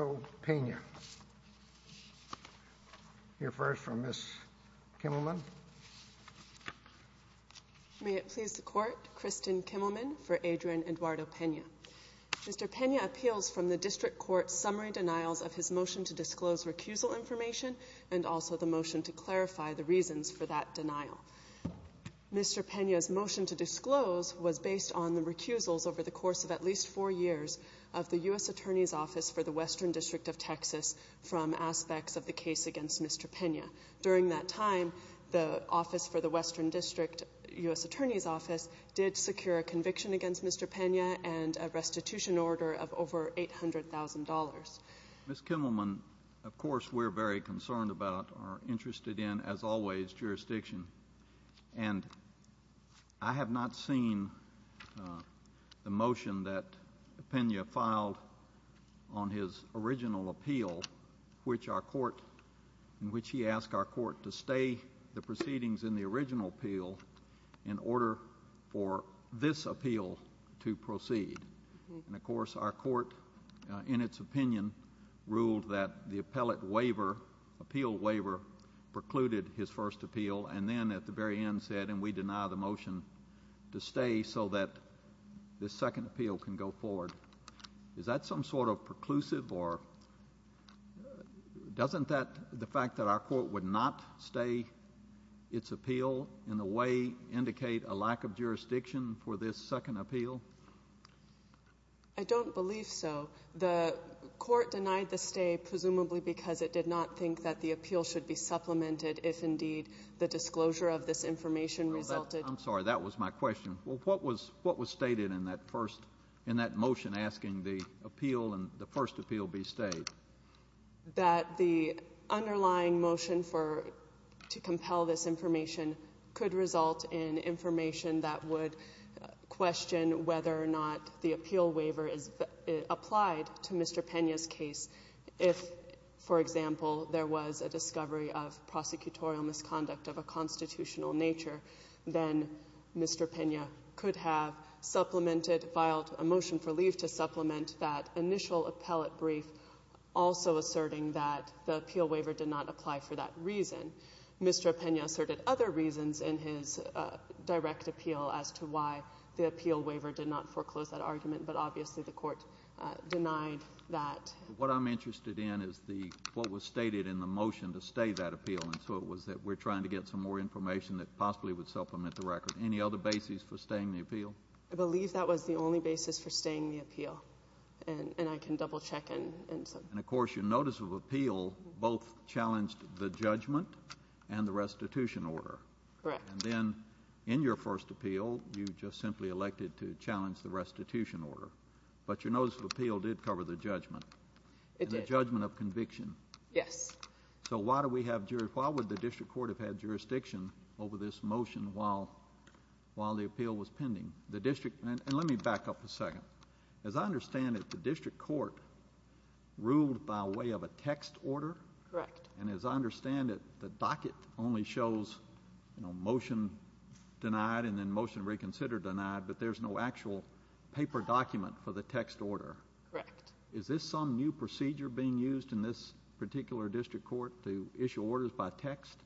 Mr. Pena appeals from the District Court's summary denials of his motion to disclose recusal information and also the motion to clarify the reasons for that denial. Mr. Pena's motion to disclose was based on the recusals over the course of at least four years of the U.S. Attorney's Office for the Western District of Texas from aspects of the case against Mr. Pena. During that time, the Office for the Western District U.S. Attorney's Office did secure a conviction against Mr. Pena and a restitution order of over $800,000. Ms. Kimmelman, of course, we're very concerned about or interested in, as always, jurisdiction. And I have not seen the motion that Pena filed on his original appeal in which he asked our court to stay the proceedings in the original appeal in order for this appeal to proceed. And, of course, our court, in its opinion, ruled that the appellate waiver, appeal waiver, precluded his first appeal and then at the very end said, and we deny the motion to stay so that the second appeal can go forward. Is that some sort of preclusive or doesn't that, the fact that our court would not stay its appeal, in a way, indicate a lack of jurisdiction for this second appeal? I don't believe so. The court denied the stay presumably because it did not think that the case supplemented if, indeed, the disclosure of this information resulted. I'm sorry, that was my question. Well, what was stated in that motion asking the appeal and the first appeal be stayed? That the underlying motion to compel this information could result in information that would question whether or not the appeal waiver is applied to Mr. Pena's case if, for example, there was a discovery of prosecutorial misconduct of a constitutional nature, then Mr. Pena could have supplemented, filed a motion for leave to supplement that initial appellate brief, also asserting that the appeal waiver did not apply for that reason. Mr. Pena asserted other reasons in his direct appeal as to why the appeal waiver did not foreclose that argument, but stated in the motion to stay that appeal, and so it was that we're trying to get some more information that possibly would supplement the record. Any other basis for staying the appeal? I believe that was the only basis for staying the appeal, and I can double check. And, of course, your notice of appeal both challenged the judgment and the restitution order. Correct. And then in your first appeal, you just simply elected to challenge the restitution order, but your notice of appeal did cover the judgment and the judgment of conviction. Yes. So why would the district court have had jurisdiction over this motion while the appeal was pending? And let me back up a second. As I understand it, the district court ruled by way of a text order. Correct. And as I understand it, the docket only shows motion denied and then motion reconsider denied, but there's no actual paper document for the text order. Correct. Is this some new procedure being used in this particular district court to issue orders by text?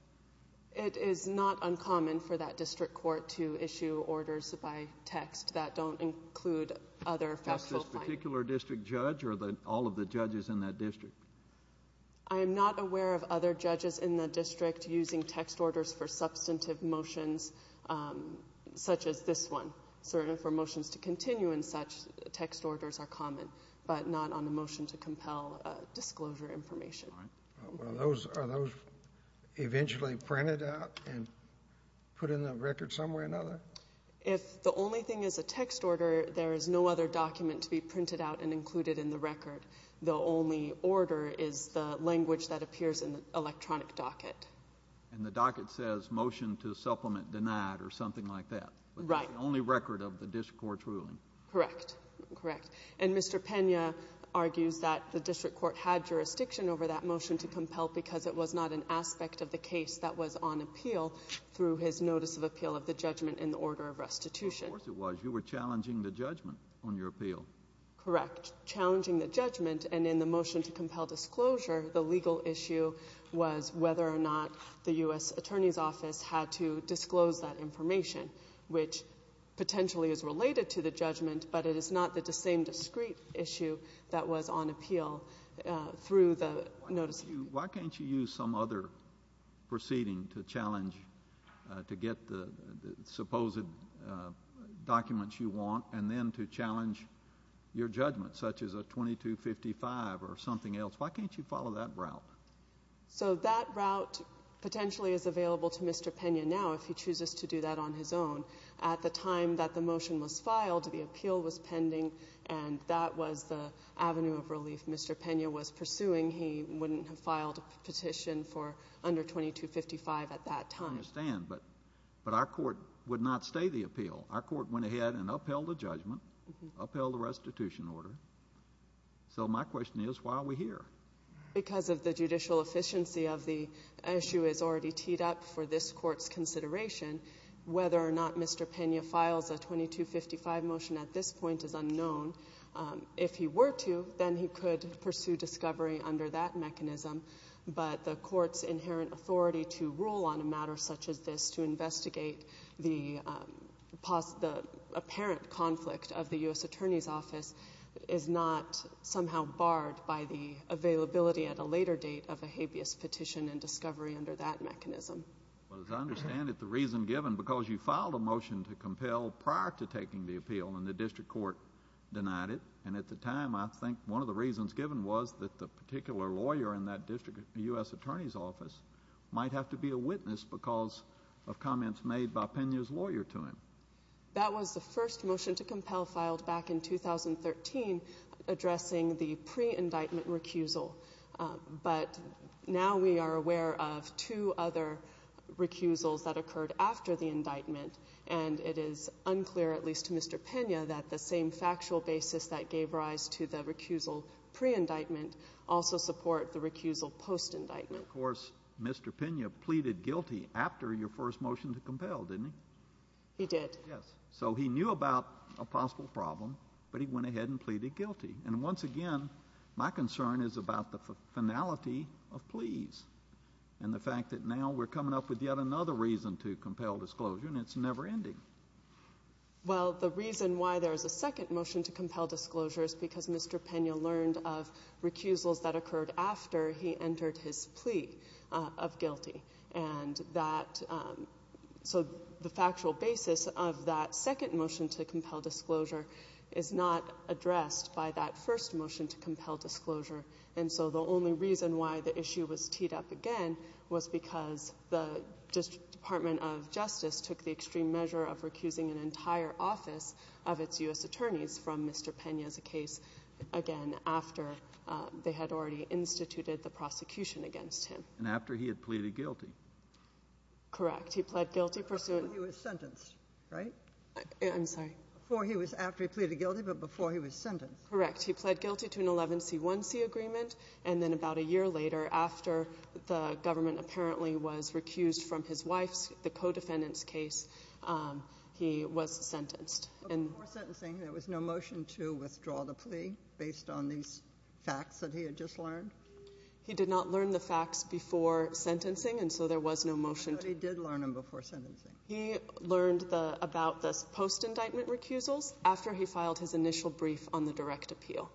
It is not uncommon for that district court to issue orders by text that don't include other factual findings. Is this particular district judge or all of the judges in that district? I am not aware of other judges in that district using text orders for substantive motions such as this one. Certainly for motions to continue in such, text orders are common, but not on a motion to compel disclosure information. Are those eventually printed out and put in the record some way or another? If the only thing is a text order, there is no other document to be printed out and included in the record. The only order is the language that appears in the electronic docket. And the docket says motion to supplement denied or something like that. Right. The only record of the district court's ruling. Correct. Correct. And Mr. Pena argues that the district court had jurisdiction over that motion to compel because it was not an aspect of the case that was on appeal through his notice of appeal of the judgment in the order of restitution. Of course it was. You were challenging the judgment on your appeal. Correct. Challenging the judgment and in the motion to compel disclosure, the legal issue was whether or not the U.S. Attorney's Office had to disclose that information, which potentially is related to the judgment, but it is not the same discrete issue that was on appeal through the notice. Why can't you use some other proceeding to challenge, to get the proposed documents you want and then to challenge your judgment, such as a 2255 or something else? Why can't you follow that route? So that route potentially is available to Mr. Pena now if he chooses to do that on his own. At the time that the motion was filed, the appeal was pending and that was the avenue of relief Mr. Pena was pursuing. He wouldn't have filed a petition for 2255 at that time. I understand, but our court would not stay the appeal. Our court went ahead and upheld the judgment, upheld the restitution order. So my question is why are we here? Because of the judicial efficiency of the issue is already teed up for this court's consideration. Whether or not Mr. Pena files a 2255 motion at this point is unknown. If he were to, then he could pursue discovery under that mechanism, but the court's inherent authority to rule on a matter such as this to investigate the apparent conflict of the U.S. Attorney's Office is not somehow barred by the availability at a later date of a habeas petition and discovery under that mechanism. Well, as I understand it, the reason given because you filed a motion to compel prior to taking the the particular lawyer in that district, the U.S. Attorney's Office, might have to be a witness because of comments made by Pena's lawyer to him. That was the first motion to compel filed back in 2013 addressing the pre-indictment recusal, but now we are aware of two other recusals that occurred after the indictment and it is unclear, at least to Mr. Pena, that the same factual basis that gave rise to the recusal pre-indictment also support the recusal post-indictment. Of course, Mr. Pena pleaded guilty after your first motion to compel, didn't he? He did. Yes, so he knew about a possible problem, but he went ahead and pleaded guilty and once again, my concern is about the finality of pleas and the fact that now we're coming up with yet another reason to compel disclosure and it's never-ending. Well, the reason why there is a second motion to compel disclosure is because Mr. Pena learned of recusals that occurred after he entered his plea of guilty and that, so the factual basis of that second motion to compel disclosure is not addressed by that first motion to compel disclosure and so the only reason why the issue was teed up again was because the Department of Justice took the extreme measure of recusing an entire office of its U.S. attorneys from Mr. Pena's case again after they had already instituted the prosecution against him. And after he had pleaded guilty. Correct, he pled guilty pursuant. Before he was sentenced, right? I'm sorry. Before he was, after he pleaded guilty, but before he was sentenced. Correct, he pled guilty to an 11c1c agreement and then about a year later, after the government apparently was recused from his wife's, the co-defendant's case, he was sentenced. Before sentencing, there was no motion to withdraw the plea based on these facts that he had just learned? He did not learn the facts before sentencing and so there was no motion. But he did learn them before sentencing? He learned the, about the post-indictment recusals after he filed his initial brief on the direct appeal.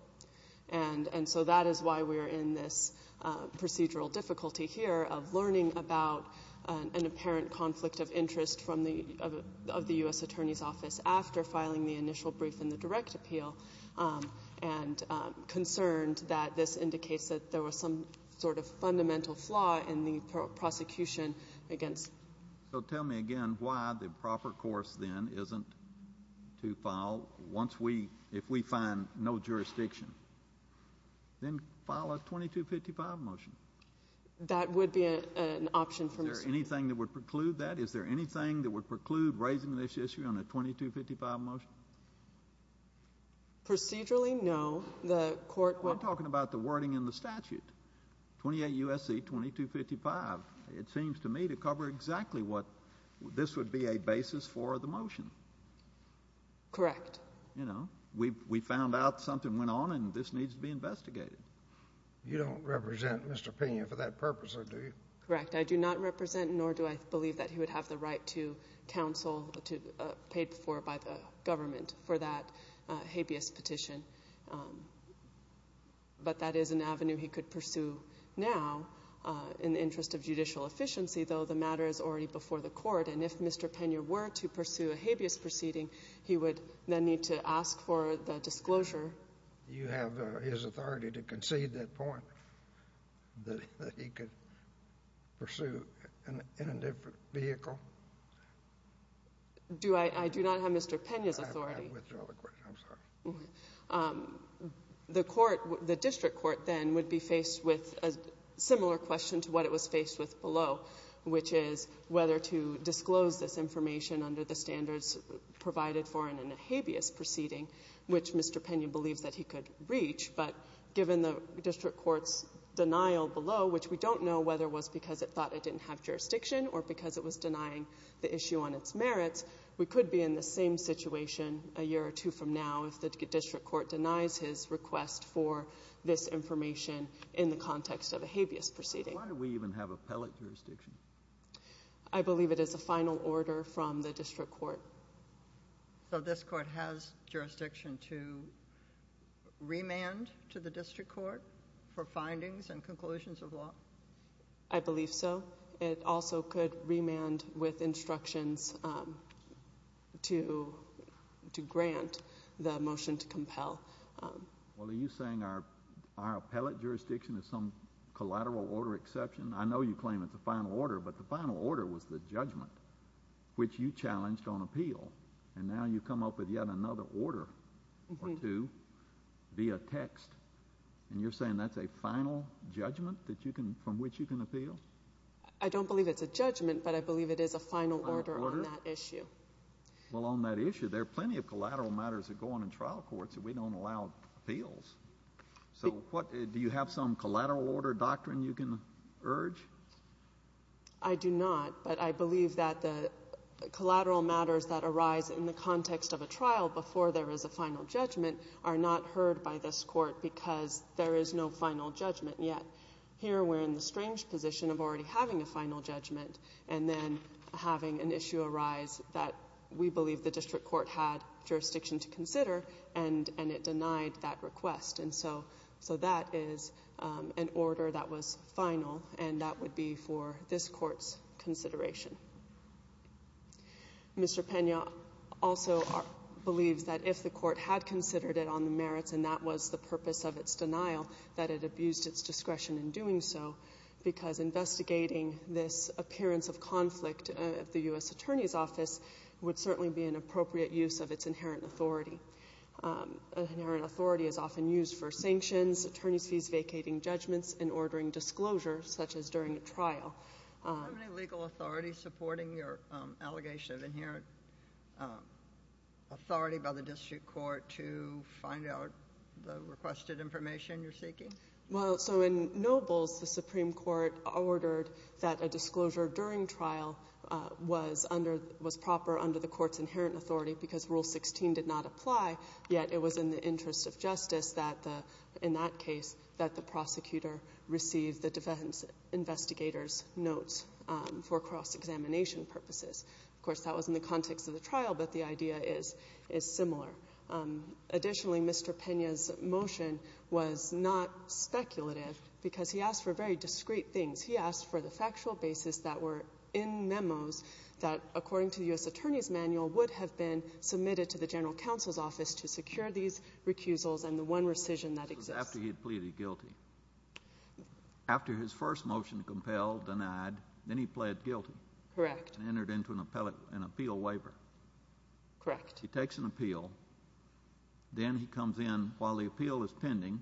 And so that is why we're in this procedural difficulty here of learning about an apparent conflict of interest from the, of the U.S. attorney's office after filing the initial brief in the direct appeal and concerned that this indicates that there was some sort of fundamental flaw in the prosecution against. So tell me again why the proper course then isn't to file once we, if we find no jurisdiction, then file a 2255 motion. That would be an option. Is there anything that would preclude that? Is there anything that would preclude raising this issue on a 2255 motion? Procedurally, no. The court. We're talking about the wording in the statute. 28 U.S.C. 2255. It seems to me to cover exactly what this would be a basis for the motion. Correct. You know, we, we found out something went on and this needs to be investigated. You don't represent Mr. Pena for that purpose, do you? Correct. I do not represent nor do I believe that he would have the right to counsel to, paid for by government for that habeas petition. But that is an avenue he could pursue now in the interest of judicial efficiency, though the matter is already before the court. And if Mr. Pena were to pursue a habeas proceeding, he would then need to ask for the disclosure. You have his authority to The court, the district court then would be faced with a similar question to what it was faced with below, which is whether to disclose this information under the standards provided for in a habeas proceeding, which Mr. Pena believes that he could reach. But given the district court's denial below, which we don't know whether it was because it thought it didn't have jurisdiction or because it was denying the issue on its merits, we could be in the same situation a year or two from now if the district court denies his request for this information in the context of a habeas proceeding. Why do we even have appellate jurisdiction? I believe it is a final order from the district court. So this court has jurisdiction to remand to the district court for findings and remand with instructions to grant the motion to compel. Well, are you saying our appellate jurisdiction is some collateral order exception? I know you claim it's the final order, but the final order was the judgment, which you challenged on appeal. And now you come up with yet another order or two via text. And you're saying that's a final judgment from which you can appeal? I don't believe it's a judgment, but I believe it is a final order on that issue. Well, on that issue, there are plenty of collateral matters that go on in trial courts that we don't allow appeals. So what, do you have some collateral order doctrine you can urge? I do not, but I believe that the collateral matters that arise in the context of a trial before there is a final judgment are not heard by this court because there is no final judgment yet. Here, we're in the strange position of already having a final judgment and then having an issue arise that we believe the district court had jurisdiction to consider and it denied that request. And so that is an order that was final and that would be for this court's consideration. Mr. Pena also believes that if the court had considered it on the merits and that was the doing so, because investigating this appearance of conflict at the U.S. Attorney's Office would certainly be an appropriate use of its inherent authority. Inherent authority is often used for sanctions, attorney's fees vacating judgments, and ordering disclosure, such as during a trial. Do you have any legal authority supporting your allegation of inherent authority by the district court to find out the requested information you're seeking? Well, so in Nobles, the Supreme Court ordered that a disclosure during trial was proper under the court's inherent authority because Rule 16 did not apply, yet it was in the interest of justice in that case that the prosecutor received the defense investigator's notes for cross-examination purposes. Of course, that was in the context of the trial, but the idea is similar. Additionally, Mr. Pena's motion was not speculative because he asked for very discreet things. He asked for the factual basis that were in memos that, according to the U.S. Attorney's Manual, would have been submitted to the General Counsel's Office to secure these recusals and the one rescission that exists. This was after he had pleaded guilty. After his first motion, compelled, denied, then he pled guilty. Correct. And entered into an appeal waiver. Correct. He takes an appeal. Then he comes in while the appeal is pending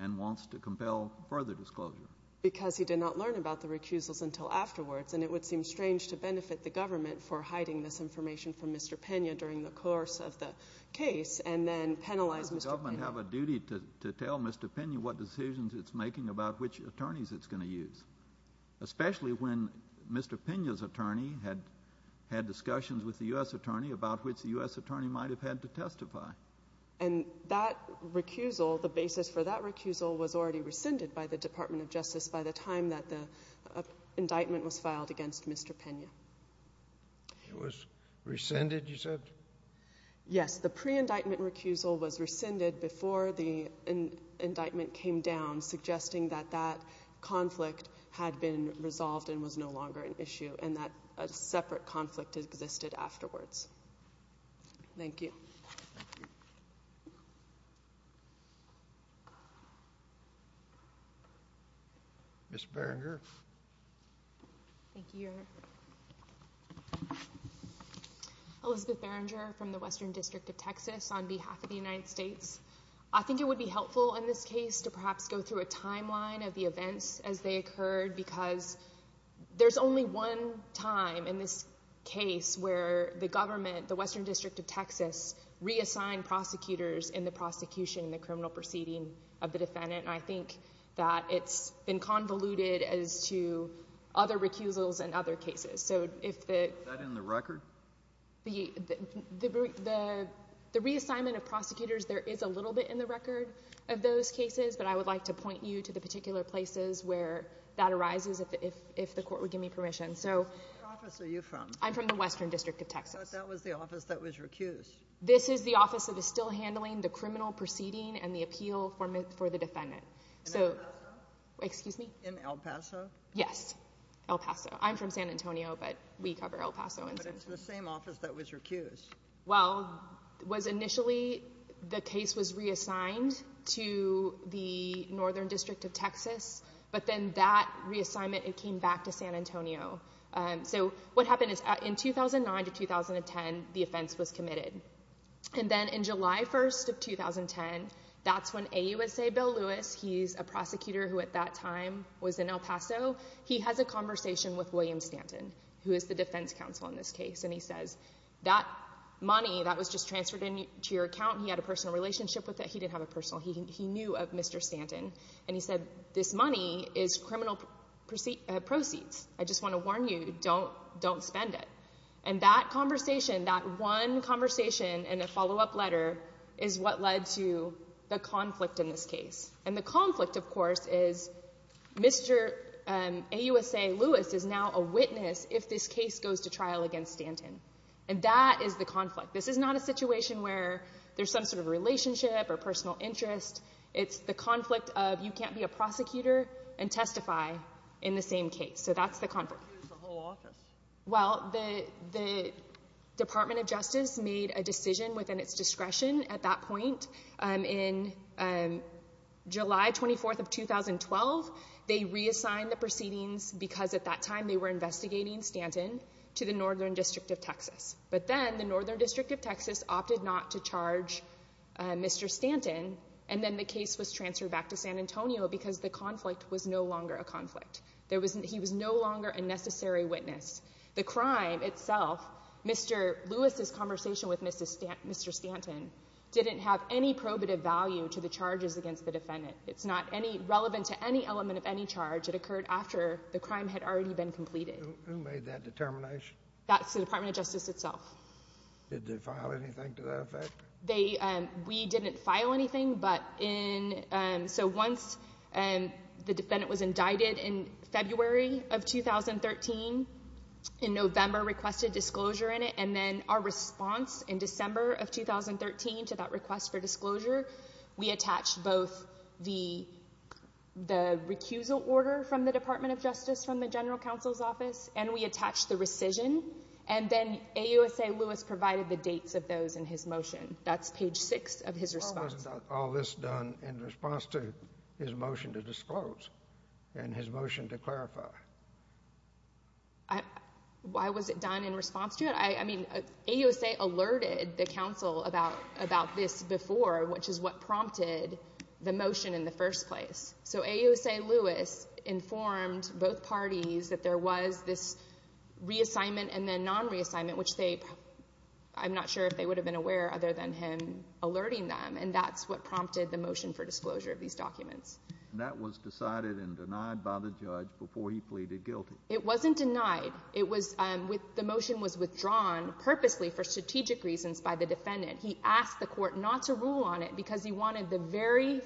and wants to compel further disclosure. Because he did not learn about the recusals until afterwards, and it would seem strange to benefit the government for hiding this information from Mr. Pena during the course of the case and then penalize Mr. Pena. Doesn't the government have a duty to tell Mr. Pena what decisions it's making about which attorneys it's going to use, especially when Mr. Pena's attorney had discussions with the U.S. Attorney about which the U.S. Attorney might have had to testify? And that recusal, the basis for that recusal, was already rescinded by the Department of Justice by the time that the indictment was filed against Mr. Pena. It was rescinded, you said? Yes, the pre-indictment recusal was rescinded before the indictment came down, suggesting that that separate conflict existed afterwards. Thank you. Ms. Barringer. Thank you, Your Honor. Elizabeth Barringer from the Western District of Texas on behalf of the United States. I think it would be helpful in this case to perhaps go through a timeline of the events as they occurred because there's only one time in this case where the government, the Western District of Texas, reassigned prosecutors in the prosecution, the criminal proceeding of the defendant, and I think that it's been convoluted as to other recusals and other cases. Is that in the record? The reassignment of prosecutors, there is a little bit in the record where that arises if the court would give me permission. Where in the office are you from? I'm from the Western District of Texas. That was the office that was recused. This is the office that is still handling the criminal proceeding and the appeal for the defendant. In El Paso? Excuse me? In El Paso? Yes, El Paso. I'm from San Antonio, but we cover El Paso. But it's the same office that was recused. Well, initially the case was reassigned to the Western District of Texas, but then that reassignment, it came back to San Antonio. So what happened is in 2009 to 2010, the offense was committed. And then in July 1st of 2010, that's when AUSA Bill Lewis, he's a prosecutor who at that time was in El Paso, he has a conversation with William Stanton, who is the defense counsel in this case, and he says, that money that was just transferred to your account, he had a personal relationship with he knew of Mr. Stanton. And he said, this money is criminal proceeds. I just want to warn you, don't spend it. And that conversation, that one conversation and a follow-up letter, is what led to the conflict in this case. And the conflict, of course, is Mr. AUSA Lewis is now a witness if this case goes to trial against Stanton. And that is the conflict. This is not a personal interest. It's the conflict of you can't be a prosecutor and testify in the same case. So that's the conflict. Well, the Department of Justice made a decision within its discretion at that point. In July 24th of 2012, they reassigned the proceedings because at that time they were investigating Stanton to the Northern District of Texas. But then the Northern District of Texas opted not to charge Mr. Stanton. And then the case was transferred back to San Antonio because the conflict was no longer a conflict. He was no longer a necessary witness. The crime itself, Mr. Lewis's conversation with Mr. Stanton didn't have any probative value to the charges against the defendant. It's not relevant to any element of any charge. It occurred after the crime had already been completed. Who made that determination? That's the Department of Justice itself. Did they file anything to that effect? We didn't file anything. So once the defendant was indicted in February of 2013, in November requested disclosure in it. And then our response in December of 2013 to that request for disclosure, we attached both the recusal order from the Department of Justice from the counsel's office and we attached the rescission. And then AUSA Lewis provided the dates of those in his motion. That's page six of his response. How was all this done in response to his motion to disclose and his motion to clarify? Why was it done in response to it? I mean, AUSA alerted the counsel about this before, which is what prompted the motion in the first place. So AUSA Lewis informed both parties that there was this reassignment and then non-reassignment, which I'm not sure if they would have been aware other than him alerting them. And that's what prompted the motion for disclosure of these documents. That was decided and denied by the judge before he pleaded guilty. It wasn't denied. The motion was withdrawn purposely for strategic reasons by the defendant. He asked the court not to rule on it because he wanted the very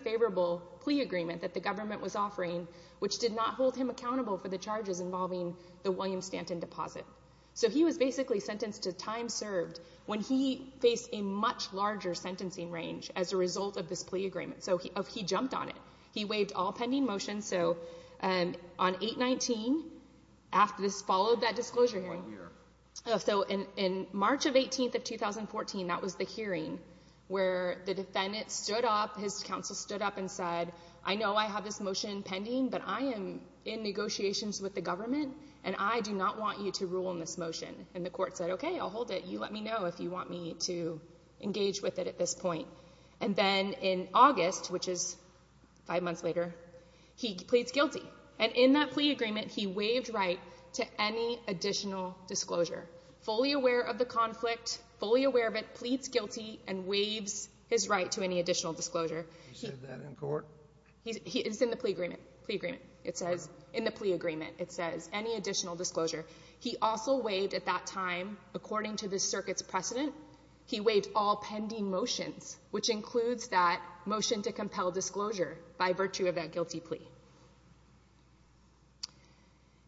government was offering, which did not hold him accountable for the charges involving the William Stanton deposit. So he was basically sentenced to time served when he faced a much larger sentencing range as a result of this plea agreement. So he jumped on it. He waived all pending motions. So on 8-19, after this followed that disclosure hearing. So in March of 18th of 2014, that was the hearing where the defendant stood up, his counsel stood up and said, I know I have this motion pending, but I am in negotiations with the government, and I do not want you to rule on this motion. And the court said, okay, I'll hold it. You let me know if you want me to engage with it at this point. And then in August, which is five months later, he pleads guilty. And in that plea agreement, he waived right to any additional disclosure. Fully aware of the conflict, fully aware of it, pleads guilty and waives his right to any additional disclosure. He said that in court? It's in the plea agreement. In the plea agreement, it says any additional disclosure. He also waived at that time, according to the circuit's precedent, he waived all pending motions, which includes that motion to compel disclosure by virtue of that guilty plea.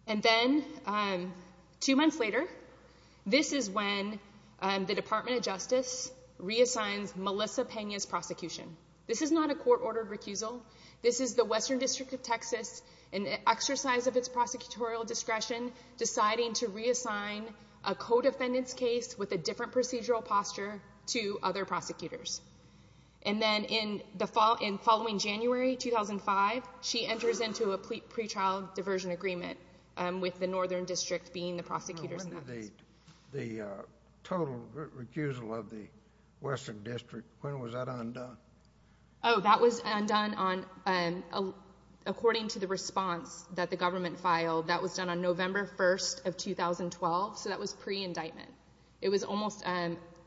And then two months later, this is when the Department of Justice reassigns Melissa Pena's prosecution. This is not a court-ordered recusal. This is the Western District of Texas, in exercise of its prosecutorial discretion, deciding to reassign a co-defendant's case with a different procedural posture to other prosecutors. And then in the following January 2005, she enters into a pretrial diversion agreement with the Northern District being the prosecutor's office. The total recusal of the Western District, when was that undone? Oh, that was undone on, according to the response that the government filed, that was done on November 1st of 2012. So that was pre-indictment. It was almost,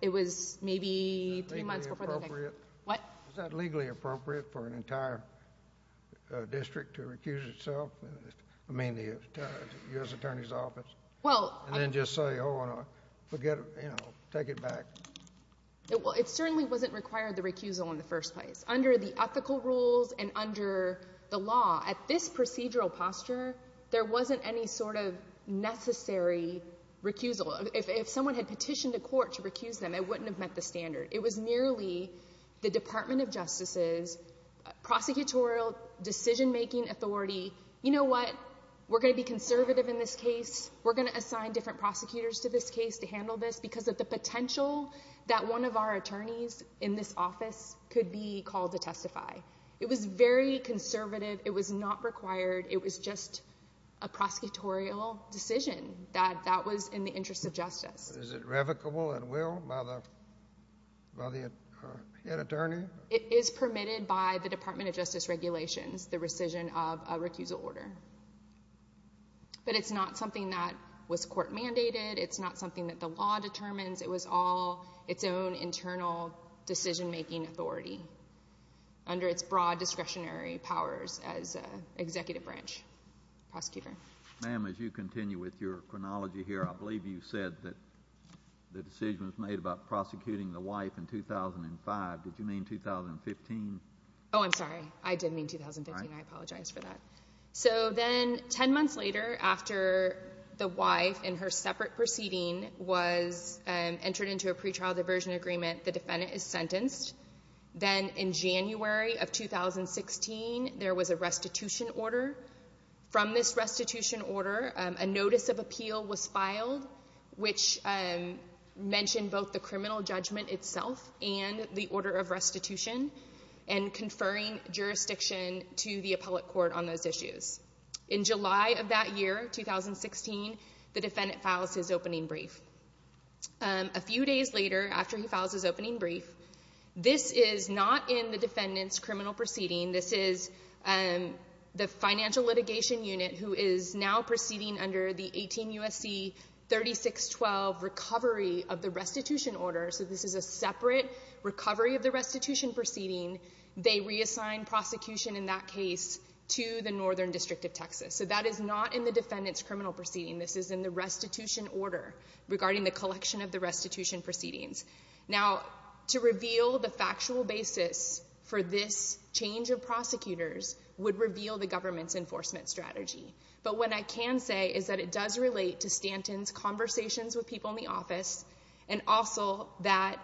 it was maybe three months before the... Is that legally appropriate? What? Is that legally appropriate for an entire district to recuse itself? I mean, the U.S. Attorney's Office. And then just say, oh, forget it, you know, take it back. Well, it certainly wasn't required, the recusal, in the first place. Under the ethical rules and under the law, at this procedural posture, there wasn't any sort of necessary recusal. If someone had petitioned a court to recuse them, it wouldn't have met the standard. It was merely the Department of Justice's prosecutorial decision-making authority. You know what? We're going to be conservative in this case. We're going to assign different prosecutors to this case to handle this because of the potential that one of our attorneys in this office could be called to testify. It was very conservative. It was not required. It was just a prosecutorial decision that was in the interest of justice. Is it revocable at will by the head attorney? It is permitted by the Department of Justice regulations, the rescission of a recusal order. But it's not something that was court-mandated. It's not something that the law determines. It was all its own internal decision-making authority under its broad discretionary powers as an executive branch prosecutor. Ma'am, as you continue with your chronology here, I believe you said that the decision was made about prosecuting the wife in 2005. Did you mean 2015? Oh, I'm sorry. I did mean 2015. I apologize for that. So then 10 months later, after the wife and her separate proceeding was entered into a pretrial diversion agreement, the defendant is sentenced. Then in January of 2016, there was a restitution order. From this restitution order, a notice of appeal was filed, which mentioned both the criminal judgment itself and the order of restitution, and conferring jurisdiction to the appellate court on those issues. In July of that year, 2016, the defendant files his opening brief. A few days later, after he files his opening brief, this is not in the defendant's criminal proceeding. This is the financial litigation unit, who is now proceeding under the 18 U.S.C. 3612 recovery of the restitution order. So this is a separate recovery of the restitution proceeding. They reassign prosecution in that case to the Northern District of Texas. So that is not in the defendant's criminal proceeding. This is in the restitution order regarding the collection of the restitution proceedings. Now, to reveal the factual basis for this change of prosecutors would reveal the government's enforcement strategy. But what I can say is that it does relate to Stanton's conversations with people in the office, and also that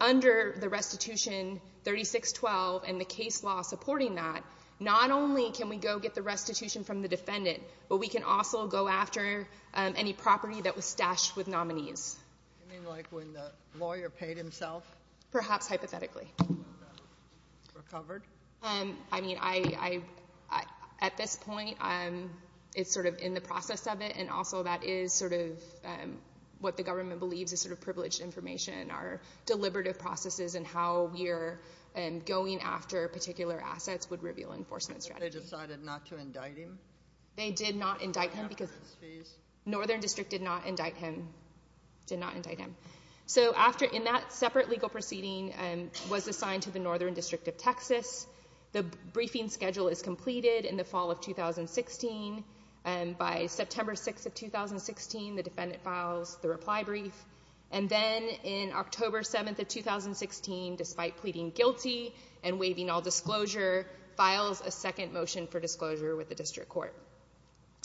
under the restitution 3612 and the case law supporting that, not only can we go get the restitution from the defendant, but we can also go after any property that was stashed with nominees. Do you mean like when the lawyer paid himself? Perhaps hypothetically. Recovered? I mean, at this point, it's sort of in the process of it, and also that is sort of what the government believes is sort of privileged information. Our deliberative processes and how we're going after particular assets would reveal enforcement strategy. They decided not to indict him? They did not indict him because Northern District did not indict him. Did not indict him. So after, in that separate legal proceeding, and was assigned to the Northern District of Texas, the briefing schedule is completed in the fall of 2016, and by September 6th of 2016, the defendant files the reply brief, and then in October 7th of 2016, despite pleading guilty and waiving all disclosure, files a second motion for disclosure with the district court.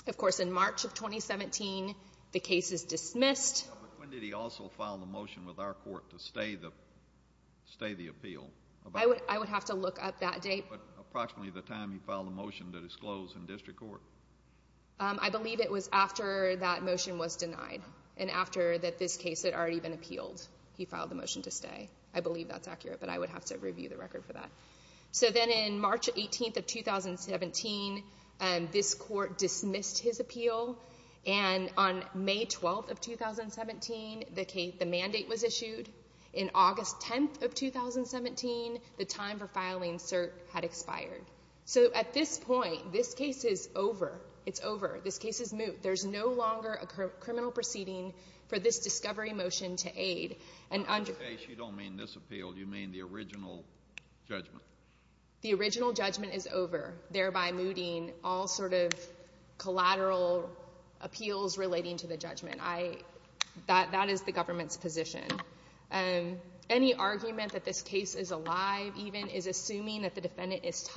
Of course, in March of 2017, the case is dismissed. When did he also file the motion with our court to stay the appeal? I would have to look up that date. Approximately the time he filed the motion to disclose in district court. I believe it was after that motion was denied, and after that this case had already been appealed, he filed the motion to stay. I believe that's accurate, but I would have to review the record for that. So then in March 18th of 2017, this court dismissed his appeal, and on May 12th of 2017, the mandate was issued. In August 10th of 2017, the time for filing cert had expired. So at this point, this case is over. It's over. This case is moot. There's no longer a criminal proceeding for this discovery motion to aid. By this case, you don't mean this appeal. You mean the original judgment? The original judgment is over, thereby mooting all sort of collateral appeals relating to the judgment. That is the government's position. Any argument that this case is alive, even, is assuming that the defendant is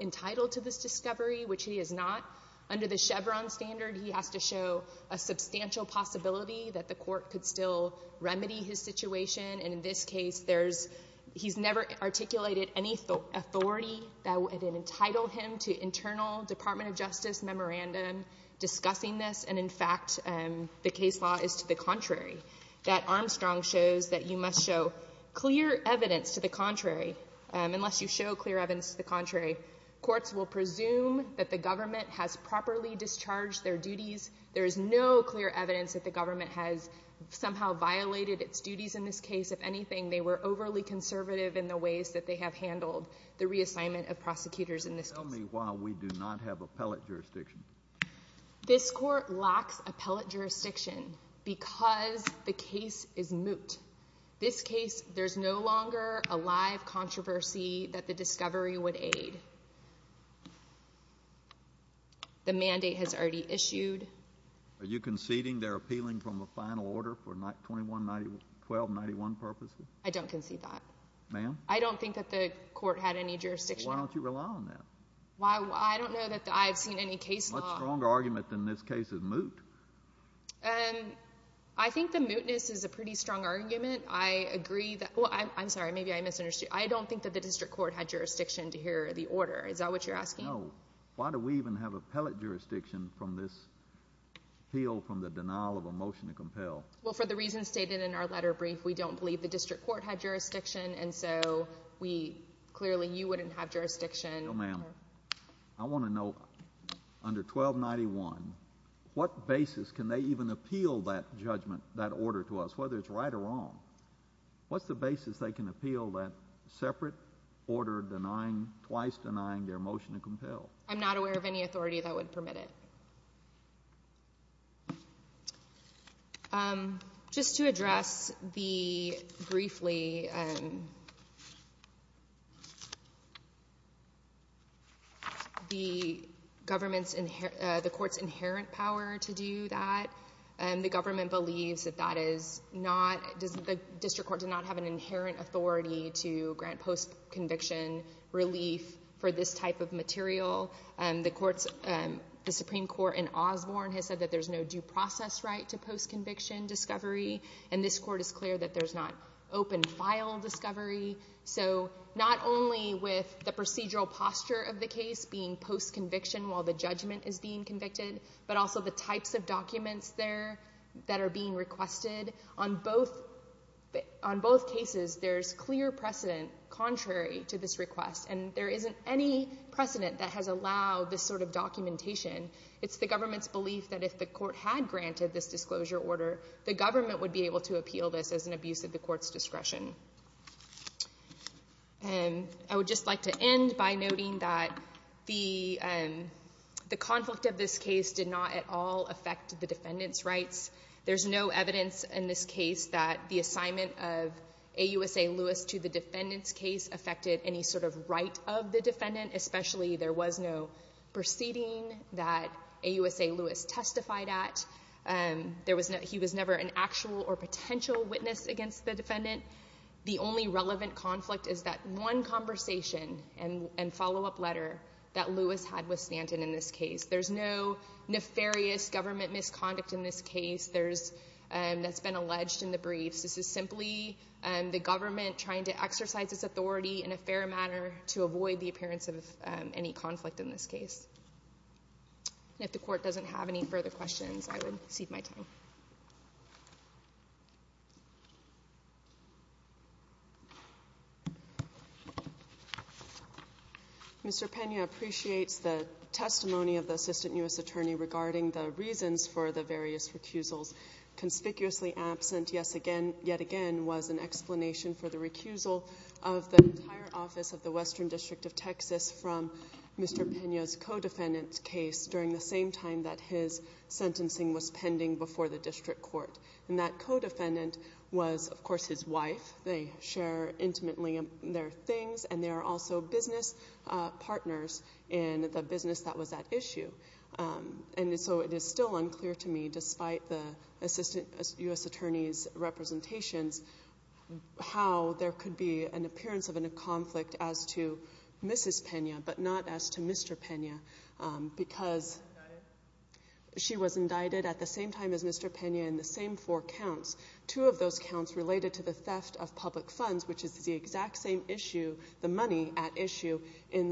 entitled to this discovery, which he is not. Under the Chevron standard, he has to show a substantial possibility that the court could still remedy his situation, and in this case, he's never articulated any authority that would entitle him to internal Department of Justice memorandum discussing this, and in fact, the case law is to the contrary, that Armstrong shows that you must show clear evidence to the contrary. Unless you show clear evidence to the contrary, courts will presume that the government has properly discharged their duties. There is no clear evidence that the government has somehow violated its duties in this case. If anything, they were overly conservative in the ways that they have handled the reassignment of prosecutors in this case. Tell me why we do not have appellate jurisdiction. This court lacks appellate jurisdiction because the case is moot. This case, there's no longer a live controversy that the discovery would aid. The mandate has already issued. Are you conceding they're appealing from a final order for 1291 purposes? I don't concede that. Ma'am? I don't think that the court had any jurisdiction. Why don't you rely on that? I don't know that I've seen any case law. What's the stronger argument than this case is moot? I think the mootness is a pretty strong argument. I agree that, well, I'm sorry, maybe I misunderstood. I don't think that the district court had jurisdiction to hear the order. Is that what you're asking? No. Why do we even have appellate jurisdiction from this appeal from the denial of a motion to compel? Well, for the reasons stated in our letter brief, we don't believe the district court had jurisdiction, and so we clearly, you wouldn't have jurisdiction. No, ma'am. I want to know, under 1291, what basis can they even appeal that judgment, that order to us, whether it's right or wrong? What's the basis they can appeal that separate order denying, twice denying their motion to compel? I'm not aware of any authority that would permit it. Just to address the, briefly, the government's, the court's inherent power to do that, the government believes that that is not, the district court did not have an inherent authority to grant post-conviction relief for this type of material. The Supreme Court in Osborne has said that there's no due process right to post-conviction discovery, and this court is clear that there's not open file discovery. So, not only with the procedural posture of the case being post-conviction while the judgment is being convicted, but also the types of documents there that are being requested, on both, on both cases, there's clear precedent contrary to this request, and there isn't any precedent that has allowed this sort of documentation. It's the government's belief that if the court had granted this disclosure order, the government would be able to appeal this as an abuse of the court's discretion. And I would just like to end by noting that the, the conflict of this case did not at all affect the defendant's rights. There's no evidence in this case that the assignment of AUSA Lewis to the defendant's case affected any sort of right of the defendant, especially there was no proceeding that AUSA Lewis testified at. There was no, he was never an actual or potential witness against the defendant. The only relevant conflict is that one conversation and, and follow-up letter that Lewis had with Stanton in this case. There's no nefarious government misconduct in this case there's, that's been alleged in the briefs. This is simply the government trying to exercise its authority in a fair manner to avoid the appearance of any conflict in this case. If the court doesn't have any further questions, I would cede my time. Thank you. Mr. Pena appreciates the testimony of the Assistant U.S. Attorney regarding the reasons for the various recusals. Conspicuously absent, yes, again, yet again, was an explanation for the recusal of the entire office of the Western District of Texas from Mr. Pena's co-defendant's during the same time that his sentencing was pending before the district court. And that co-defendant was, of course, his wife. They share intimately their things and they are also business partners in the business that was at issue. And so it is still unclear to me, despite the Assistant U.S. Attorney's representations, how there could be an appearance of a conflict as to whether or not there was. She was indicted at the same time as Mr. Pena in the same four counts, two of those counts related to the theft of public funds, which is the exact same issue, the money at issue in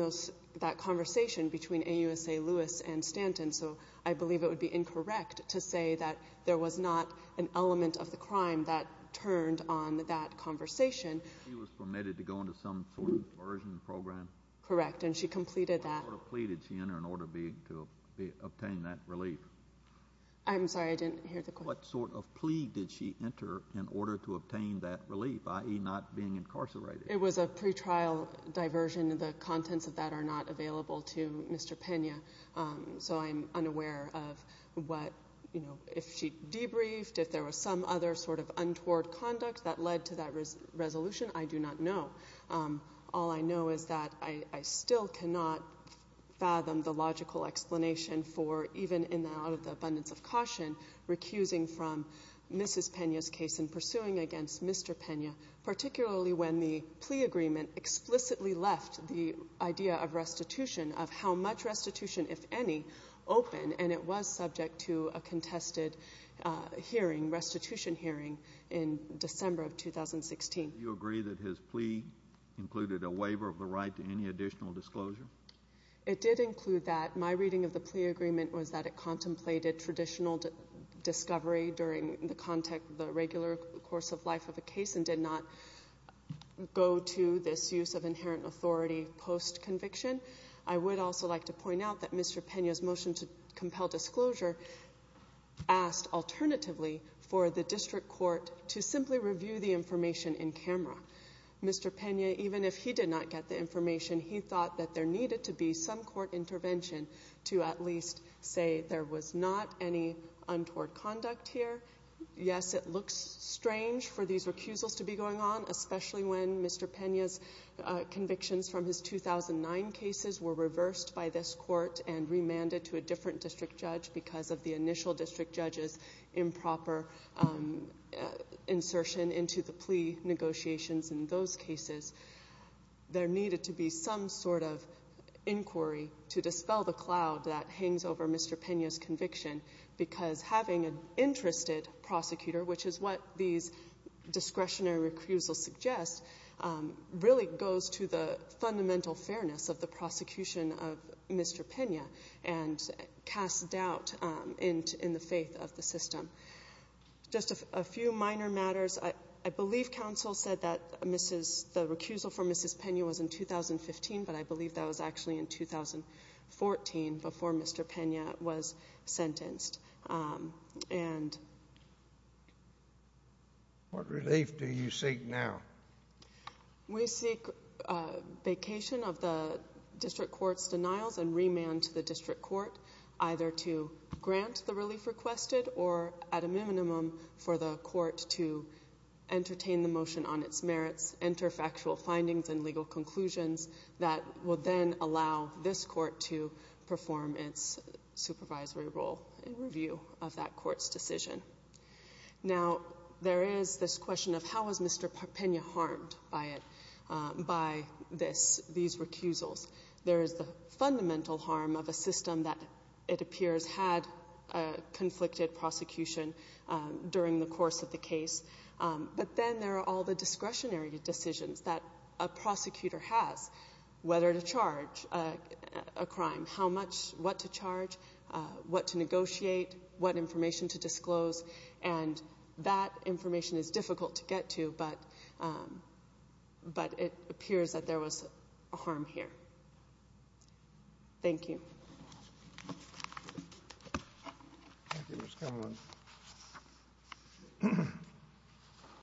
that conversation between AUSA Lewis and Stanton. So I believe it would be incorrect to say that there was not an element of the crime that turned on that conversation. She was permitted to go into some sort of coercion program? Correct. And she completed that. What sort of plea did she enter in order to obtain that relief? I'm sorry, I didn't hear the question. What sort of plea did she enter in order to obtain that relief, i.e. not being incarcerated? It was a pretrial diversion. The contents of that are not available to Mr. Pena. So I'm unaware of what, you know, if she debriefed, if there was some other sort of untoward conduct that led to that resolution. I do not know. All I know is that I still cannot fathom the logical explanation for, even in and out of the abundance of caution, recusing from Mrs. Pena's case and pursuing against Mr. Pena, particularly when the plea agreement explicitly left the idea of restitution, of how much restitution, if any, open, and it was subject to a contested hearing, restitution 2016. Do you agree that his plea included a waiver of the right to any additional disclosure? It did include that. My reading of the plea agreement was that it contemplated traditional discovery during the regular course of life of a case and did not go to this use of inherent authority post-conviction. I would also like to point out that Mr. Pena's motion to compel Mr. Pena, even if he did not get the information, he thought that there needed to be some court intervention to at least say there was not any untoward conduct here. Yes, it looks strange for these recusals to be going on, especially when Mr. Pena's convictions from his 2009 cases were reversed by this court and remanded to a different district judge because of the initial district judge's improper insertion into the plea negotiations in those cases. There needed to be some sort of inquiry to dispel the cloud that hangs over Mr. Pena's conviction because having an interested prosecutor, which is what these discretionary recusals suggest, really goes to fundamental fairness of the prosecution of Mr. Pena and casts doubt in the faith of the system. Just a few minor matters. I believe counsel said that the recusal for Mrs. Pena was in 2015, but I believe that was actually in 2014 before Mr. Pena was sentenced. What relief do you seek now? We seek vacation of the district court's denials and remand to the district court, either to grant the relief requested or, at a minimum, for the court to entertain the motion on its merits, enter factual findings and legal conclusions that will then allow this court to perform its supervisory role in review of that court's decision. Now, there is this question of how was Mr. Pena harmed by these recusals. There is the fundamental harm of a system that, it appears, had a conflicted prosecution during the course of the whether to charge a crime, how much, what to charge, what to negotiate, what information to disclose, and that information is difficult to get to, but it appears that there was a harm here. Thank you.